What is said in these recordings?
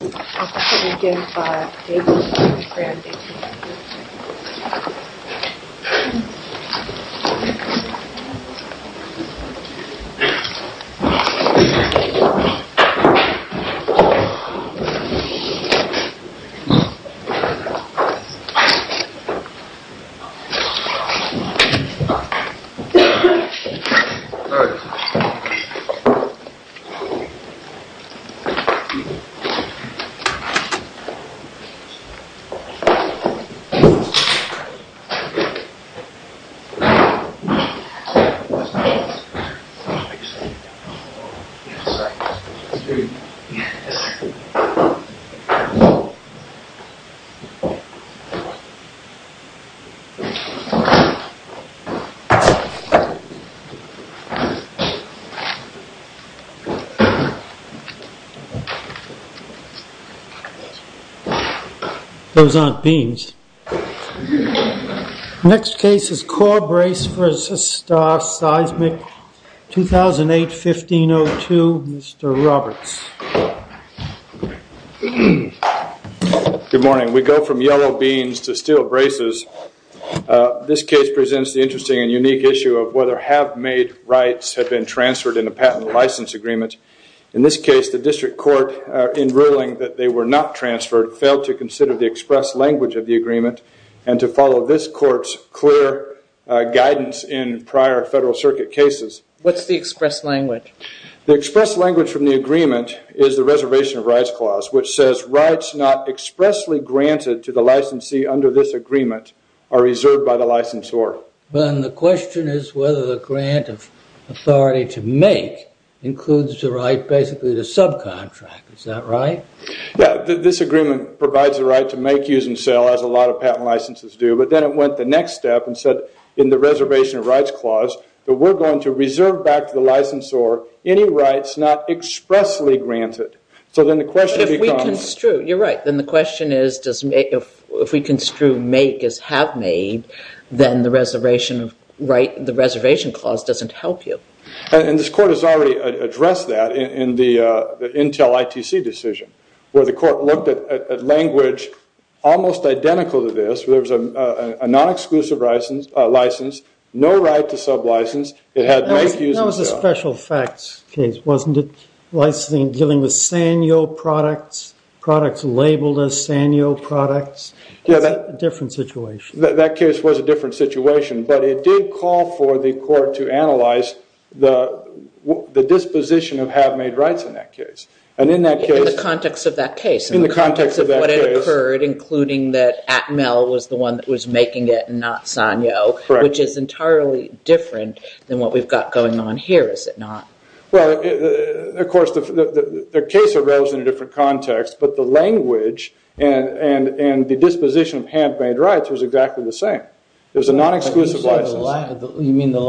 This is an video amplified and translated via 听译师 HelperBuddy app. Hope you enjoy this video. Hope you enjoy this video. Those aren't beans. Next case is Core Brace vs. Star Seismic, 2008-15-02. Mr. Roberts. Good morning. We go from yellow beans to steel braces. This case presents the interesting and unique issue of whether have-made rights have been transferred in a patent license agreement. In this case, the district court, in ruling that they were not transferred, failed to consider the express language of the agreement and to follow this court's clear guidance in prior Federal Circuit cases. What's the express language? The express language from the agreement is the Reservation of Rights Clause, which says rights not expressly granted to the licensee under this agreement are reserved by the licensor. Then the question is whether the grant of authority to make includes the right basically to subcontract. Is that right? Yeah. This agreement provides the right to make, use, and sell, as a lot of patent licenses do. But then it went the next step and said in the Reservation of Rights Clause that we're going to reserve back to the licensor any rights not expressly granted. You're right. Then the question is, if we construe make as have-made, then the Reservation Clause doesn't help you. And this court has already addressed that in the Intel ITC decision, where the court looked at language almost identical to this, where there was a non-exclusive license, no right to sub-license, it had make, use, and sell. That was a special effects case, wasn't it? Licensing dealing with Sanyo products, products labeled as Sanyo products. That's a different situation. That case was a different situation, but it did call for the court to analyze the disposition of have-made rights in that case. In the context of that case. In the context of that case. We've heard, including that Atmel was the one that was making it and not Sanyo, which is entirely different than what we've got going on here, is it not? Well, of course, the case arose in a different context, but the language and the disposition of have-made rights was exactly the same. It was a non-exclusive license. The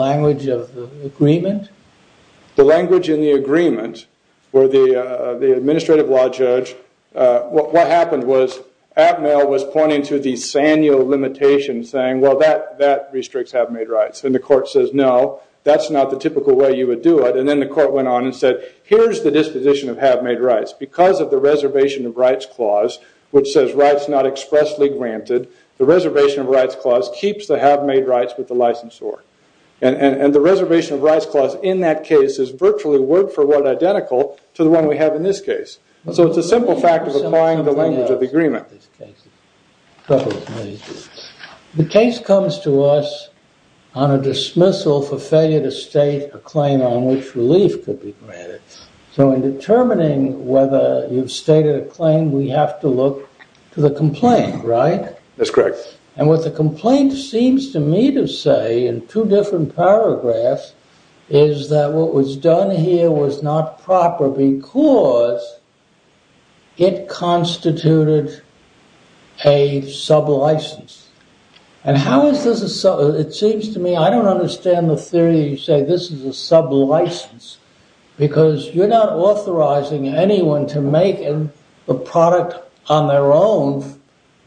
language in the agreement where the administrative law judge, what happened was Atmel was pointing to the Sanyo limitations saying, well, that restricts have-made rights. And the court says, no, that's not the typical way you would do it. And then the court went on and said, here's the disposition of have-made rights. Because of the reservation of rights clause, which says rights not expressly granted, the reservation of rights clause keeps the have-made rights with the licensor. And the reservation of rights clause in that case is virtually word for word identical to the one we have in this case. So it's a simple fact of applying the language of the agreement. The case comes to us on a dismissal for failure to state a claim on which relief could be granted. So in determining whether you've stated a claim, we have to look to the complaint, right? That's correct. And what the complaint seems to me to say in two different paragraphs is that what was done here was not proper because it constituted a sub-license. And how is this a sub-license? It seems to me, I don't understand the theory that you say this is a sub-license. Because you're not authorizing anyone to make a product on their own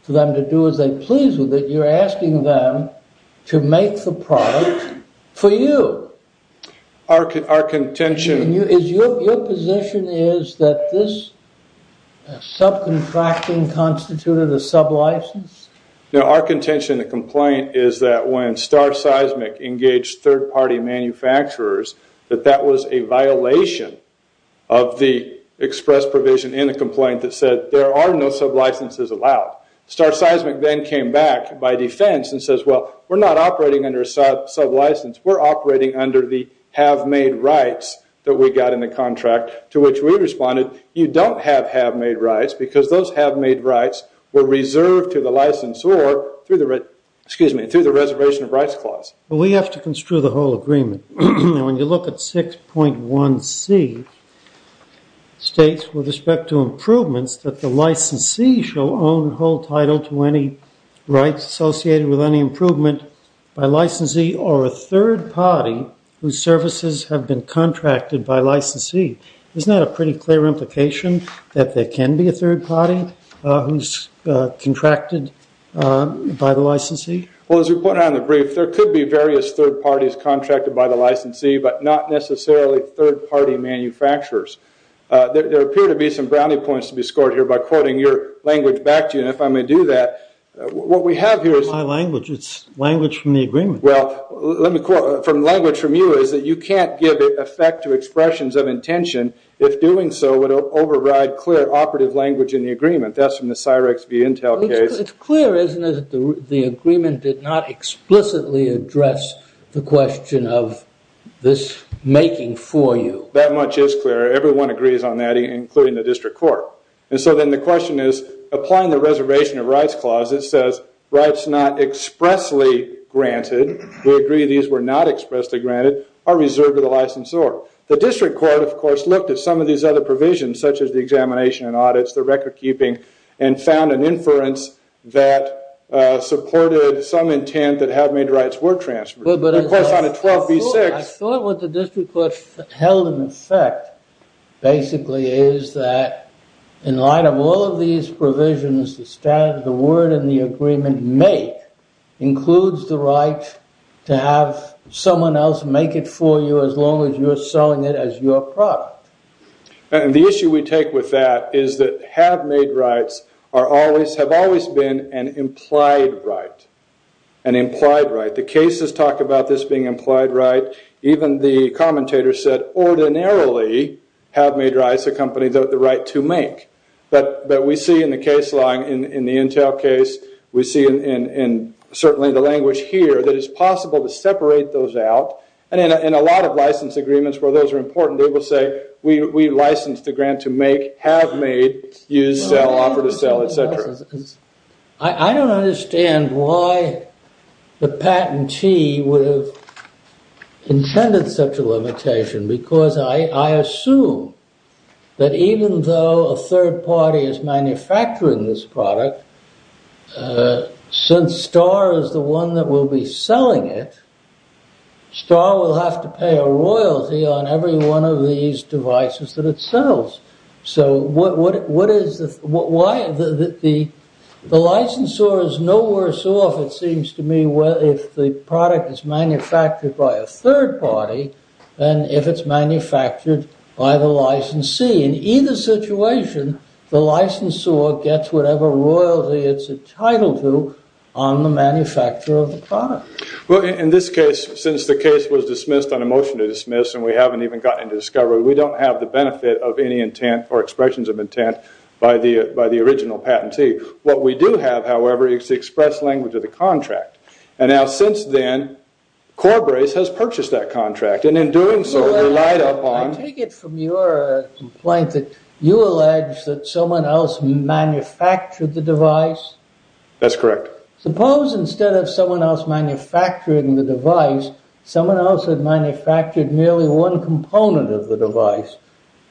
for them to do as they please with it. You're asking them to make the product for you. Our contention... Your position is that this sub-contracting constituted a sub-license? Our contention in the complaint is that when Star Seismic engaged third-party manufacturers, that that was a violation of the express provision in the complaint that said there are no sub-licenses allowed. Star Seismic then came back by defense and says, well, we're not operating under a sub-license. We're operating under the have-made rights that we got in the contract to which we responded. You don't have have-made rights because those have-made rights were reserved to the licensor through the reservation of rights clause. We have to construe the whole agreement. When you look at 6.1c, states with respect to improvements that the licensee shall own whole title to any rights associated with any improvement by licensee or a third party whose services have been contracted by licensee. Isn't that a pretty clear implication that there can be a third party who's contracted by the licensee? Well, as we pointed out in the brief, there could be various third parties contracted by the licensee, but not necessarily third-party manufacturers. There appear to be some brownie points to be scored here by quoting your language back to you. And if I may do that, what we have here is... It's my language. It's language from the agreement. Well, let me quote from language from you is that you can't give effect to expressions of intention if doing so would override clear operative language in the agreement. That's from the Cyrex v. Intel case. It's clear, isn't it, that the agreement did not explicitly address the question of this making for you. That much is clear. Everyone agrees on that, including the district court. And so then the question is, applying the Reservation of Rights Clause, it says, rights not expressly granted, we agree these were not expressly granted, are reserved to the licensor. The district court, of course, looked at some of these other provisions, such as the examination and audits, the record keeping, and found an inference that supported some intent that had made rights were transferred. I thought what the district court held in effect, basically, is that in light of all of these provisions, the word in the agreement, make, includes the right to have someone else make it for you as long as you're selling it as your product. And the issue we take with that is that have made rights have always been an implied right. The cases talk about this being implied right. Even the commentator said, ordinarily, have made rights accompany the right to make. But we see in the case law, in the Intel case, we see in certainly the language here, that it's possible to separate those out. And in a lot of license agreements where those are important, they will say, we license the grant to make, have made, use, sell, offer to sell, et cetera. I don't understand why the patentee would have intended such a limitation, because I assume that even though a third party is manufacturing this product, since Star is the one that will be selling it, Star will have to pay a royalty on every one of these devices that it sells. So what is the, why, the licensor is no worse off, it seems to me, if the product is manufactured by a third party than if it's manufactured by the licensee. In either situation, the licensor gets whatever royalty it's entitled to on the manufacturer of the product. Well, in this case, since the case was dismissed on a motion to dismiss, and we haven't even gotten to discovery, we don't have the benefit of any intent or expressions of intent by the original patentee. What we do have, however, is the express language of the contract. And now since then, Corbrace has purchased that contract, and in doing so, relied upon... I take it from your complaint that you allege that someone else manufactured the device? That's correct. Suppose instead of someone else manufacturing the device, someone else had manufactured merely one component of the device.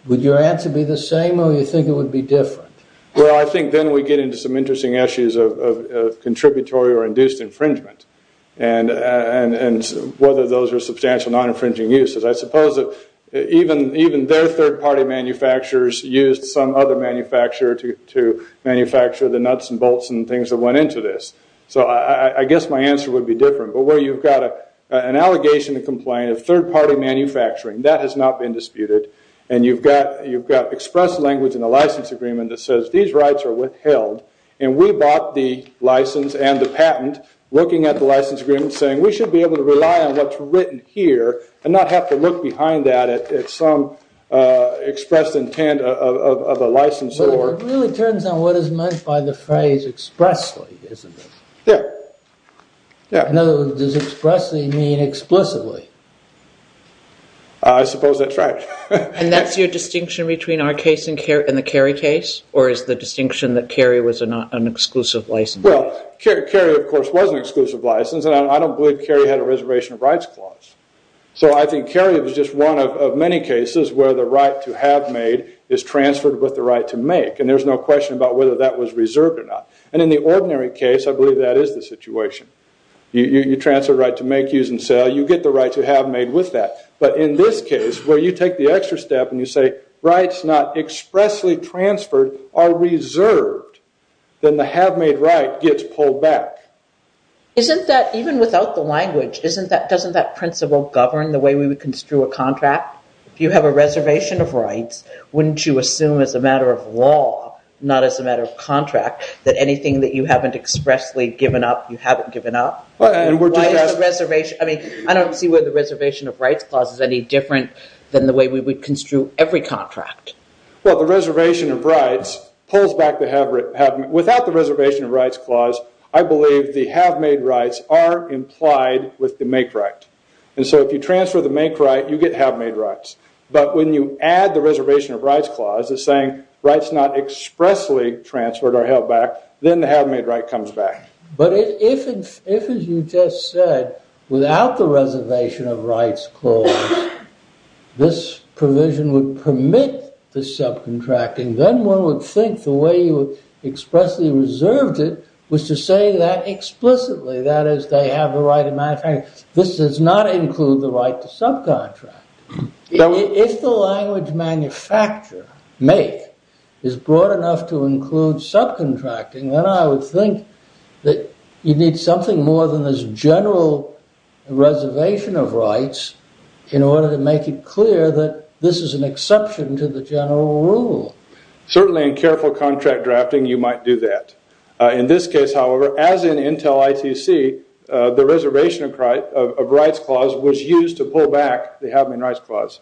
Would your answer be the same, or do you think it would be different? Well, I think then we get into some interesting issues of contributory or induced infringement, and whether those are substantial non-infringing uses. I suppose that even their third party manufacturers used some other manufacturer to manufacture the nuts and bolts and things that went into this. So I guess my answer would be different. But where you've got an allegation and complaint of third party manufacturing, that has not been disputed. And you've got express language in the license agreement that says these rights are withheld, and we bought the license and the patent, looking at the license agreement, saying we should be able to rely on what's written here and not have to look behind that at some expressed intent of a licensor. It really turns out what is meant by the phrase expressly, isn't it? Yeah. In other words, does expressly mean explicitly? I suppose that's right. And that's your distinction between our case and the Carey case? Or is the distinction that Carey was not an exclusive license? Well, Carey, of course, was an exclusive license, and I don't believe Carey had a reservation of rights clause. So I think Carey was just one of many cases where the right to have made is transferred with the right to make, and there's no question about whether that was reserved or not. And in the ordinary case, I believe that is the situation. You transfer the right to make, use, and sell. You get the right to have made with that. But in this case, where you take the extra step and you say rights not expressly transferred are reserved, then the have made right gets pulled back. Isn't that, even without the language, doesn't that principle govern the way we would construe a contract? If you have a reservation of rights, wouldn't you assume as a matter of law, not as a matter of contract, that anything that you haven't expressly given up, you haven't given up? I don't see where the reservation of rights clause is any different than the way we would construe every contract. Well, the reservation of rights pulls back the have made. Without the reservation of rights clause, I believe the have made rights are implied with the make right. And so if you transfer the make right, you get have made rights. But when you add the reservation of rights clause, it's saying rights not expressly transferred are held back, then the have made right comes back. But if, as you just said, without the reservation of rights clause, this provision would permit the subcontracting, then one would think the way you expressly reserved it was to say that explicitly, that is, they have the right to manufacture. This does not include the right to subcontract. If the language manufacture, make, is broad enough to include subcontracting, then I would think that you need something more than this general reservation of rights in order to make it clear that this is an exception to the general rule. Certainly in careful contract drafting, you might do that. In this case, however, as in Intel ITC, the reservation of rights clause was used to pull back the have made rights clause.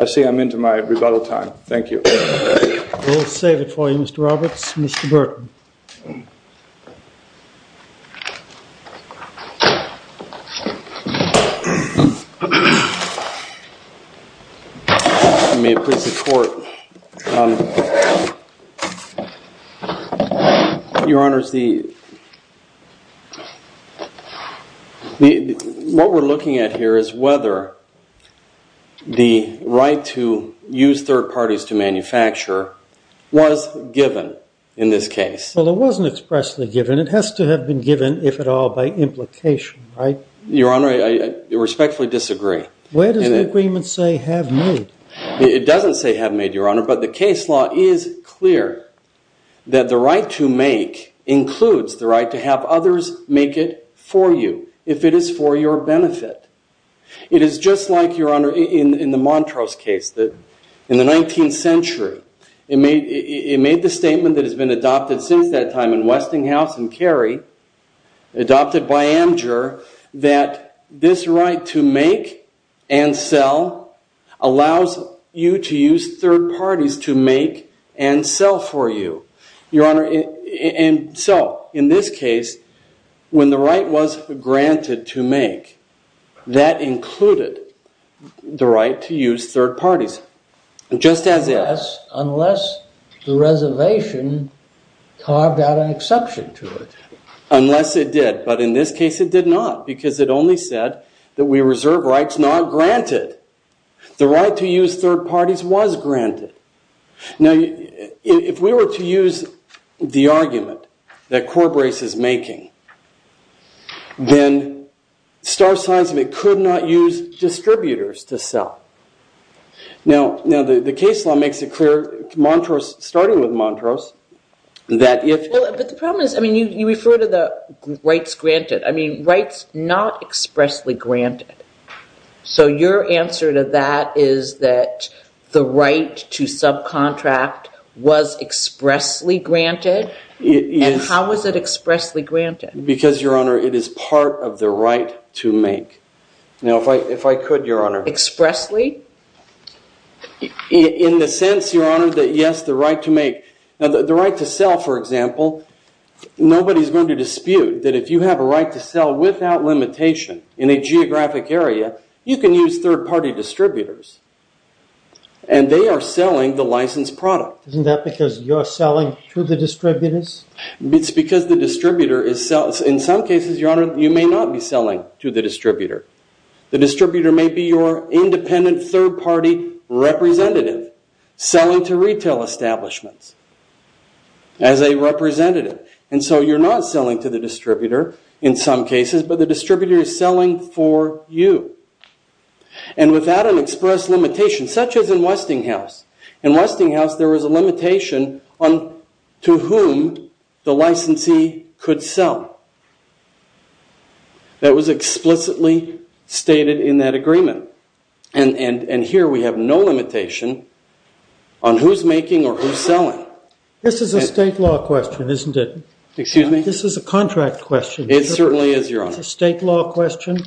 I see I'm into my rebuttal time. Thank you. We'll save it for you, Mr. Roberts. Mr. Burton. You may appreciate the court. Your Honor, what we're looking at here is whether the right to use third parties to manufacture was given in this case. Well, it wasn't expressly given. It has to have been given, if at all, by implication, right? Your Honor, I respectfully disagree. Where does the agreement say have made? It doesn't say have made, Your Honor, but the case law is clear that the right to make includes the right to have others make it for you, if it is for your benefit. It is just like, Your Honor, in the Montrose case. In the 19th century, it made the statement that has been adopted since that time in Westinghouse and Cary, adopted by Amger, that this right to make and sell allows you to use third parties to make and sell for you. Your Honor, and so, in this case, when the right was granted to make, that included the right to use third parties, just as is. Unless the reservation carved out an exception to it. Unless it did. But in this case, it did not, because it only said that we reserve rights not granted. The right to use third parties was granted. Now, if we were to use the argument that Corbrace is making, then star signs of it could not use distributors to sell. Now, the case law makes it clear, starting with Montrose, that if... But the problem is, I mean, you refer to the rights granted. I mean, rights not expressly granted. So your answer to that is that the right to subcontract was expressly granted? Yes. And how was it expressly granted? Because, Your Honor, it is part of the right to make. Now, if I could, Your Honor... Expressly? In the sense, Your Honor, that, yes, the right to make... Now, the right to sell, for example, nobody's going to dispute that if you have a right to sell without limitation in a geographic area, you can use third-party distributors. And they are selling the licensed product. Isn't that because you're selling to the distributors? It's because the distributor is... In some cases, Your Honor, you may not be selling to the distributor. The distributor may be your independent third-party representative selling to retail establishments as a representative. And so you're not selling to the distributor in some cases, but the distributor is selling for you. And without an express limitation, such as in Westinghouse... In Westinghouse, there was a limitation on to whom the licensee could sell. That was explicitly stated in that agreement. And here we have no limitation on who's making or who's selling. This is a state law question, isn't it? Excuse me? This is a contract question. It certainly is, Your Honor. It's a state law question.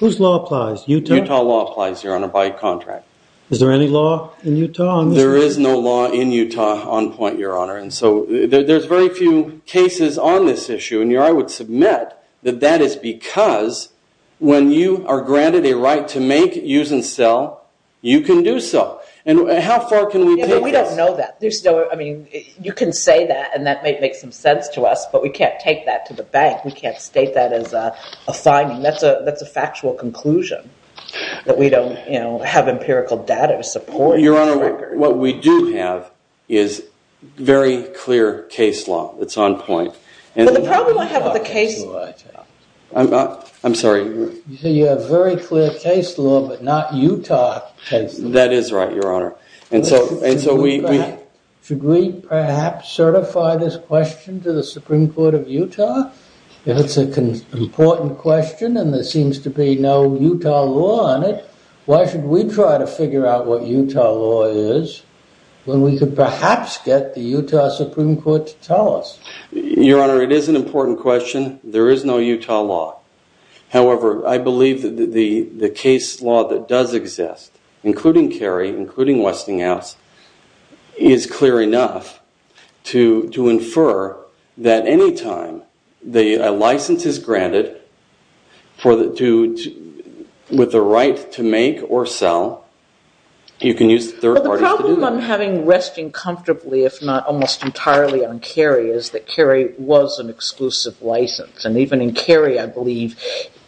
Whose law applies? Utah? Utah law applies, Your Honor, by contract. Is there any law in Utah on this? There is no law in Utah on point, Your Honor. And so there's very few cases on this issue. And I would submit that that is because when you are granted a right to make, use, and sell, you can do so. And how far can we take this? We don't know that. You can say that, and that might make some sense to us, but we can't take that to the bank. We can't state that as a finding. That's a factual conclusion, that we don't have empirical data to support this record. Your Honor, what we do have is very clear case law. It's on point. But the problem I have with the case... I'm sorry. You have very clear case law, but not Utah case law. That is right, Your Honor. And so we... Should we perhaps certify this question to the Supreme Court of Utah? It's an important question, and there seems to be no Utah law on it. Why should we try to figure out what Utah law is when we could perhaps get the Utah Supreme Court to tell us? Your Honor, it is an important question. There is no Utah law. However, I believe that the case law that does exist, including Cary, including Westinghouse, is clear enough to infer that any time a license is granted with the right to make or sell, you can use third parties to do that. Well, the problem I'm having resting comfortably, if not almost entirely, on Cary is that Cary was an exclusive license. And even in Cary, I believe,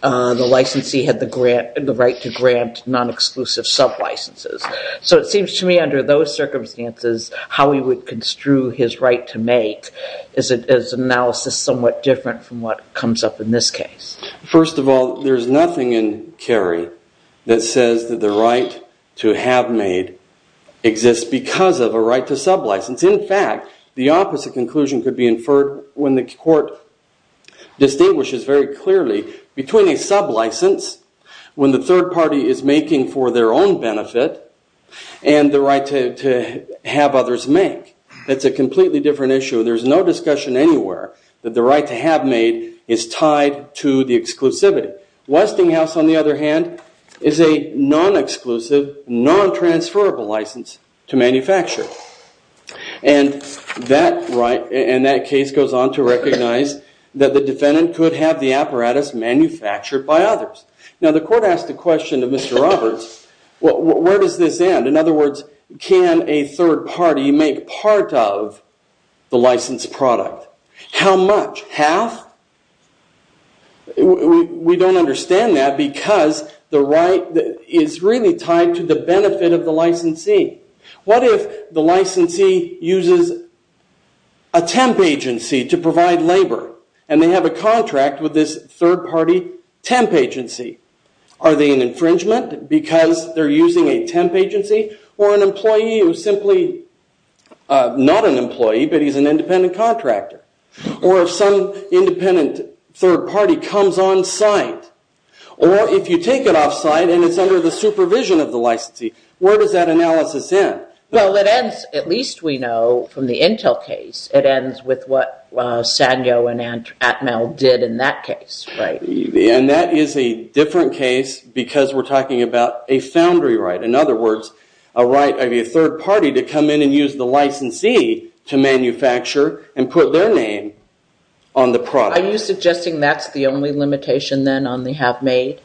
the licensee had the right to grant non-exclusive sub-licenses. So it seems to me, under those circumstances, how he would construe his right to make is an analysis somewhat different from what comes up in this case. First of all, there's nothing in Cary that says that the right to have made exists because of a right to sub-license. In fact, the opposite conclusion could be inferred when the court distinguishes very clearly between a sub-license, when the third party is making for their own benefit, and the right to have others make. That's a completely different issue. There's no discussion anywhere that the right to have made is tied to the exclusivity. Westinghouse, on the other hand, is a non-exclusive, non-transferable license to manufacture. And that case goes on to recognize that the defendant could have the apparatus manufactured by others. Now, the court asked the question to Mr. Roberts, where does this end? In other words, can a third party make part of the licensed product? How much? Half? We don't understand that because the right is really tied to the benefit of the licensee. What if the licensee uses a temp agency to provide labor, and they have a contract with this third party temp agency? Are they an infringement because they're using a temp agency? Or an employee who's simply not an employee, but he's an independent contractor? Or if some independent third party comes on site? Or if you take it off site and it's under the supervision of the licensee, where does that analysis end? Well, it ends, at least we know from the Intel case, it ends with what Sanyo and Atmel did in that case. And that is a different case because we're talking about a foundry right. In other words, a right of a third party to come in and use the licensee to manufacture and put their name on the product. Are you suggesting that's the only limitation then on the have made?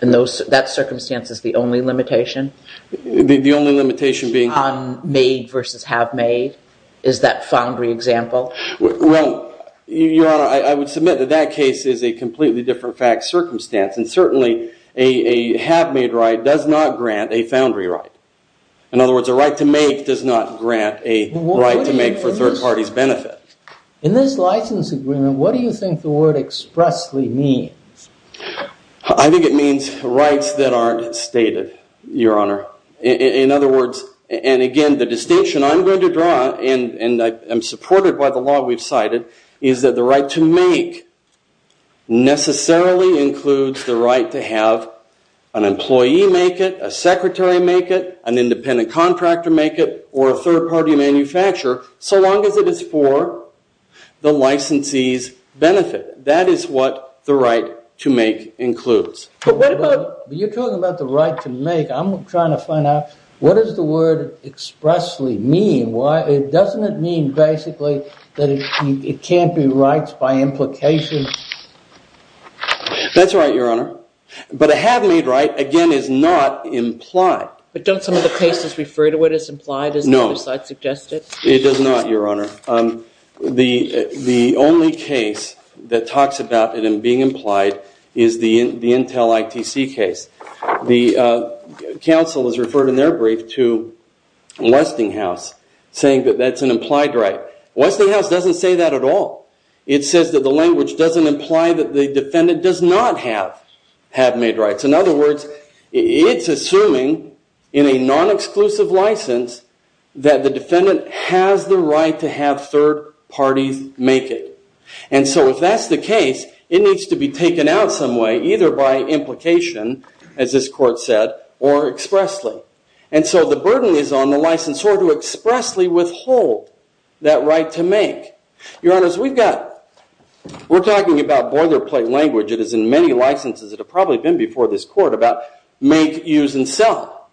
And that circumstance is the only limitation? The only limitation being... On made versus have made? Is that foundry example? Well, Your Honor, I would submit that that case is a completely different fact circumstance. And certainly, a have made right does not grant a foundry right. In other words, a right to make does not grant a right to make for third party's benefit. In this license agreement, what do you think the word expressly means? I think it means rights that aren't stated, Your Honor. In other words, and again, the distinction I'm going to draw, and I'm supported by the law we've cited, is that the right to make necessarily includes the right to have an employee make it, a secretary make it, an independent contractor make it, or a third party manufacturer, so long as it is for the licensee's benefit. That is what the right to make includes. But what about... You're talking about the right to make. I'm trying to find out, what does the word expressly mean? Doesn't it mean basically that it can't be rights by implication? That's right, Your Honor. But a have made right, again, is not implied. But don't some of the cases refer to it as implied? No. It does not, Your Honor. The only case that talks about it being implied is the Intel ITC case. The counsel has referred in their brief to Westinghouse, saying that that's an implied right. Westinghouse doesn't say that at all. It says that the language doesn't imply that the defendant does not have have made rights. In other words, it's assuming in a non-exclusive license that the defendant has the right to have third parties make it. And so if that's the case, it needs to be taken out some way, either by implication, as this court said, or expressly. And so the burden is on the licensor to expressly withhold that right to make. Your Honors, we've got... We're talking about boilerplate language. It is in many licenses that have probably been before this court about make, use, and sell.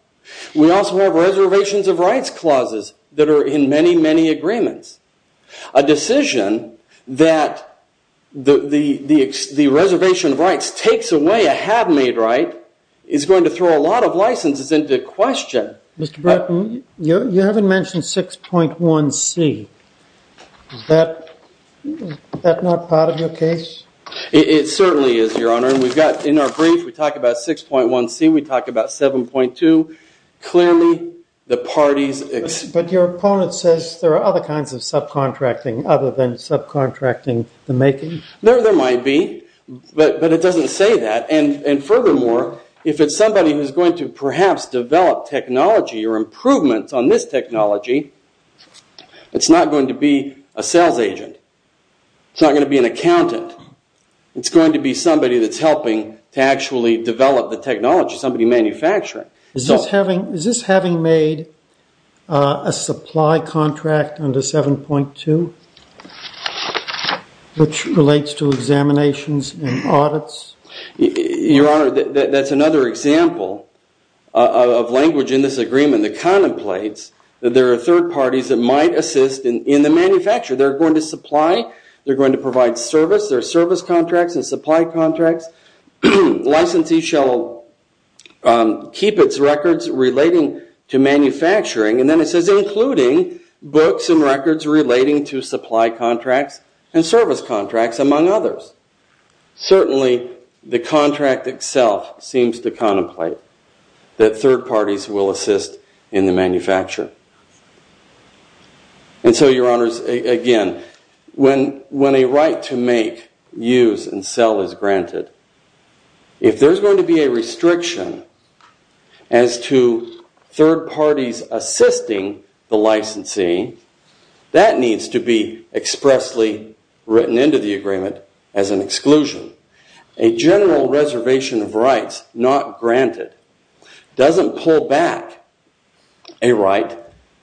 We also have reservations of rights clauses that are in many, many agreements. A decision that the reservation of rights takes away a have made right is going to throw a lot of licenses into question. Mr. Bretton, you haven't mentioned 6.1c. Is that not part of your case? It certainly is, Your Honor. And we've got, in our brief, we talk about 6.1c. We talk about 7.2. Clearly, the parties... But your opponent says there are other kinds of subcontracting other than subcontracting the making? There might be. But it doesn't say that. And furthermore, if it's somebody who's going to, perhaps, develop technology or improvements on this technology, it's not going to be a sales agent. It's not going to be an accountant. It's going to be somebody that's helping to actually develop the technology, somebody manufacturing. Is this having made a supply contract under 7.2, which relates to examinations and audits? Your Honor, that's another example of language in this agreement that contemplates that there are third parties that might assist in the manufacture. They're going to supply. They're going to provide service. There are service contracts and supply contracts. Licensee shall keep its records relating to manufacturing. And then it says, including books and records relating to supply contracts and service contracts, among others. Certainly, the contract itself seems to contemplate that third parties will assist in the manufacture. And so, Your Honors, again, when a right to make, use, and sell is granted, if there's going to be a restriction as to third parties assisting the licensee, that needs to be expressly written into the agreement as an exclusion. A general reservation of rights not granted doesn't pull back a right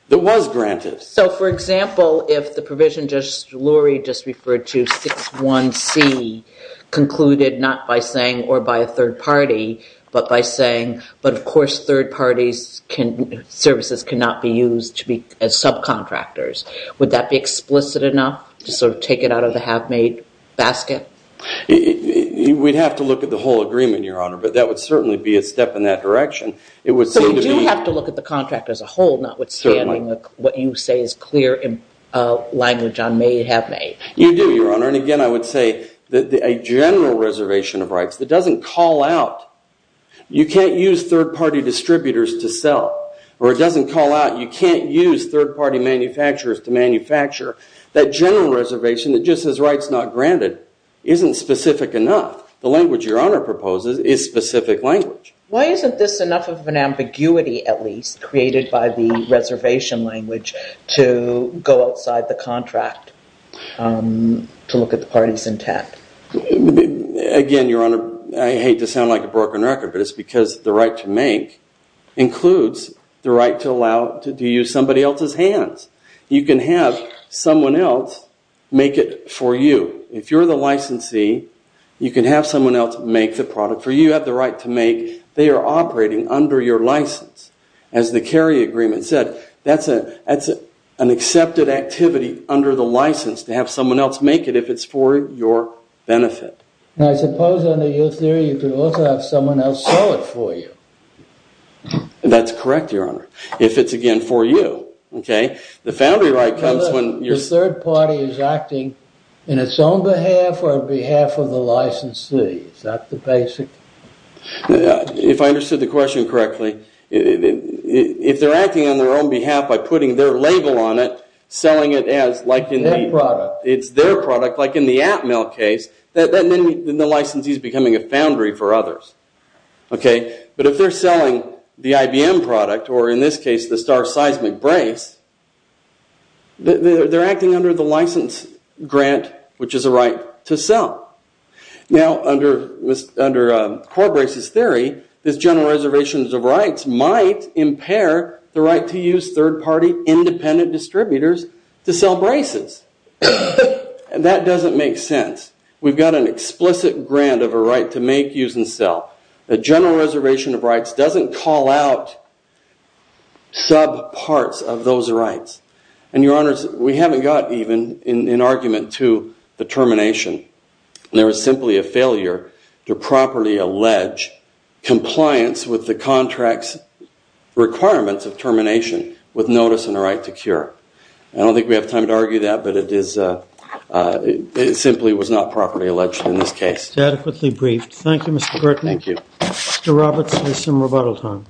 that was granted. So, for example, if the provision Justice Lurie just referred to, 6.1c, concluded not by saying or by a third party, but by saying, but of course third parties services cannot be used as subcontractors. Would that be explicit enough to sort of take it out of the half-made basket? We'd have to look at the whole agreement, Your Honor, but that would certainly be a step in that direction. So we do have to look at the contract as a whole, not with standing what you say is clear language on may it have made. You do, Your Honor, and again I would say that a general reservation of rights that doesn't call out you can't use third party distributors to sell, or it doesn't call out you can't use third party manufacturers to manufacture, that general reservation that just says rights not granted isn't specific enough. The language Your Honor proposes is specific language. Why isn't this enough of an ambiguity, at least, created by the reservation language to go outside the contract to look at the parties intact? Again, Your Honor, I hate to sound like a broken record, but it's because the right to make includes the right to allow to use somebody else's hands. You can have someone else make it for you. If you're the licensee, you can have someone else make the product for you. You have the right to make. They are operating under your license as the Kerry Agreement said. That's an accepted activity under the license to have someone else make it if it's for your benefit. I suppose under your theory you could also have someone else sell it for you. That's correct, Your Honor, if it's, again, for you. The foundry right comes when... The third party is acting in its own behalf or on behalf of the licensee. Is that the basic... If I understood the question correctly, if they're acting on their own behalf by putting their label on it, selling it as... Their product. It's their product, like in the Atmel case, then the licensee is becoming a foundry for others. But if they're selling the IBM product, or in this case, the Star Seismic Brace, they're acting under the license grant, which is a right to sell. Now, under Corbrace's theory, this General Reservation of Rights might impair the right to use third-party independent distributors to sell braces. And that doesn't make sense. We've got an explicit grant of a right to make, use, and sell. The General Reservation of Rights doesn't call out subparts of those rights. And, Your Honors, we haven't got even an argument to the termination. There is simply a failure to properly allege compliance with the contract's requirements of termination with notice and a right to cure. I don't think we have time to argue that, but it simply was not properly alleged in this case. Adequately briefed. Thank you, Mr. Burton. Thank you. Mr. Roberts, there's some rebuttal time.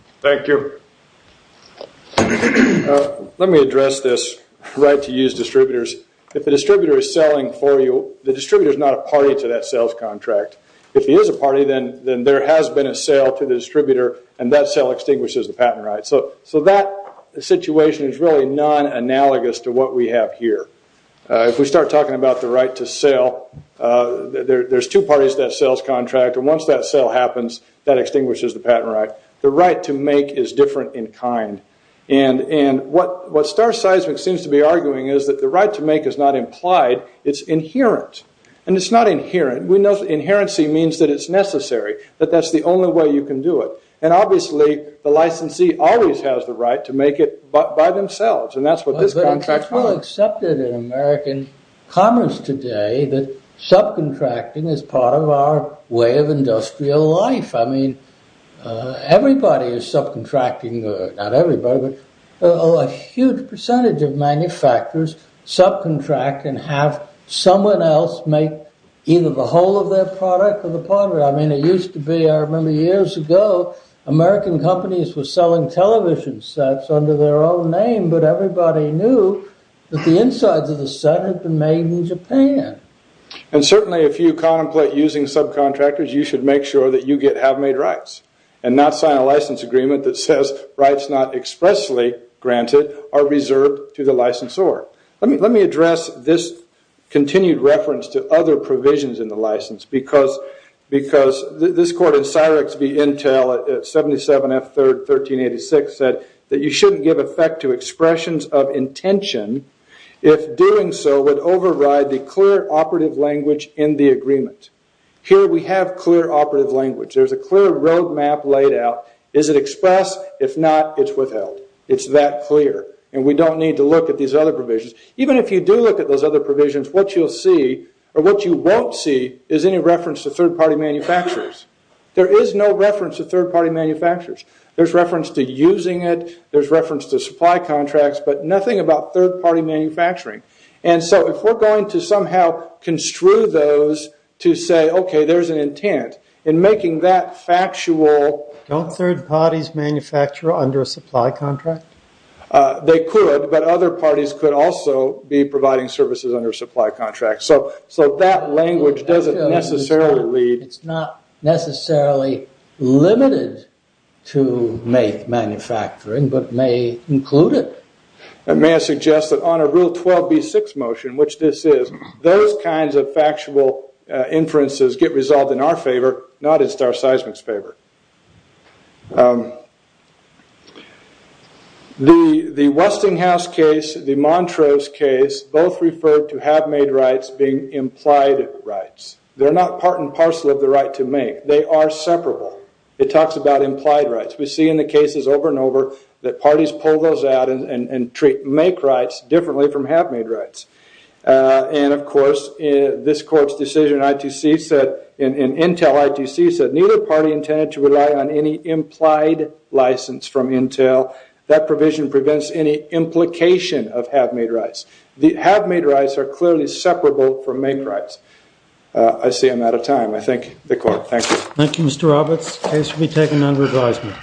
Let me address this right to use distributors. If the distributor is selling for you, the distributor is not a party to that sales contract. If he is a party, then there has been a sale to the distributor, and that sale extinguishes the patent right. So that situation is really non-analogous to what we have here. If we start talking about the right to sell, there's two parties to that sales contract, and once that sale happens, that extinguishes the patent right. The right to make is different in kind. And what Star Seismic seems to be arguing is that the right to make is not implied, it's inherent. And it's not inherent. We know that inherency means that it's necessary, that that's the only way you can do it. And obviously, the licensee always has the right to make it by themselves, and that's what this contract... But it's well accepted in American commerce today that subcontracting is part of our way of industrial life. I mean, everybody is subcontracting, not everybody, but a huge percentage of manufacturers subcontract and have someone else make either the whole of their product or the part of it. I mean, it used to be, I remember years ago, American companies were selling television sets under their own name, but everybody knew that the insides of the set had been made in Japan. And certainly, if you contemplate using subcontractors, you should make sure that you get have-made rights and not sign a license agreement that says rights not expressly granted are reserved to the licensor. Let me address this continued reference to other provisions in the license because this court in Cyrix v. Intel at 77 F. 3rd, 1386 said that you shouldn't give effect to expressions of intention if doing so would override the clear operative language in the agreement. Here we have clear operative language. There's a clear roadmap laid out. Is it expressed? If not, it's withheld. It's that clear. And we don't need to look at these other provisions. Even if you do look at those other provisions, what you'll see or what you won't see is any reference to third-party manufacturers. There is no reference to third-party manufacturers. There's reference to using it. There's reference to supply contracts, but nothing about third-party manufacturing. And so, if we're going to somehow construe those to say, okay, there's an intent in making that factual... Don't third-parties manufacture under a supply contract? They could, but other parties could also be providing services under a supply contract. So, that language doesn't necessarily lead... It's not necessarily limited to manufacturing, but may include it. May I suggest that on a rule 12B6 motion, which this is, those kinds of factual inferences get resolved in our favor, not in Star Seismic's favor. The Westinghouse case, the Montrose case, both referred to have-made rights being implied rights. They're not part and parcel of the right to make. They are separable. It talks about implied rights. We see in the cases over and over that parties pull those out and make rights differently from have-made rights. And, of course, this court's decision in Intel ITC said, neither party intended to rely on any implied license from Intel. That provision prevents any implication of have-made rights. The have-made rights are clearly separable from make rights. I see I'm out of time. I thank the court. Thank you. Thank you, Mr. Roberts. Case will be taken under advisement.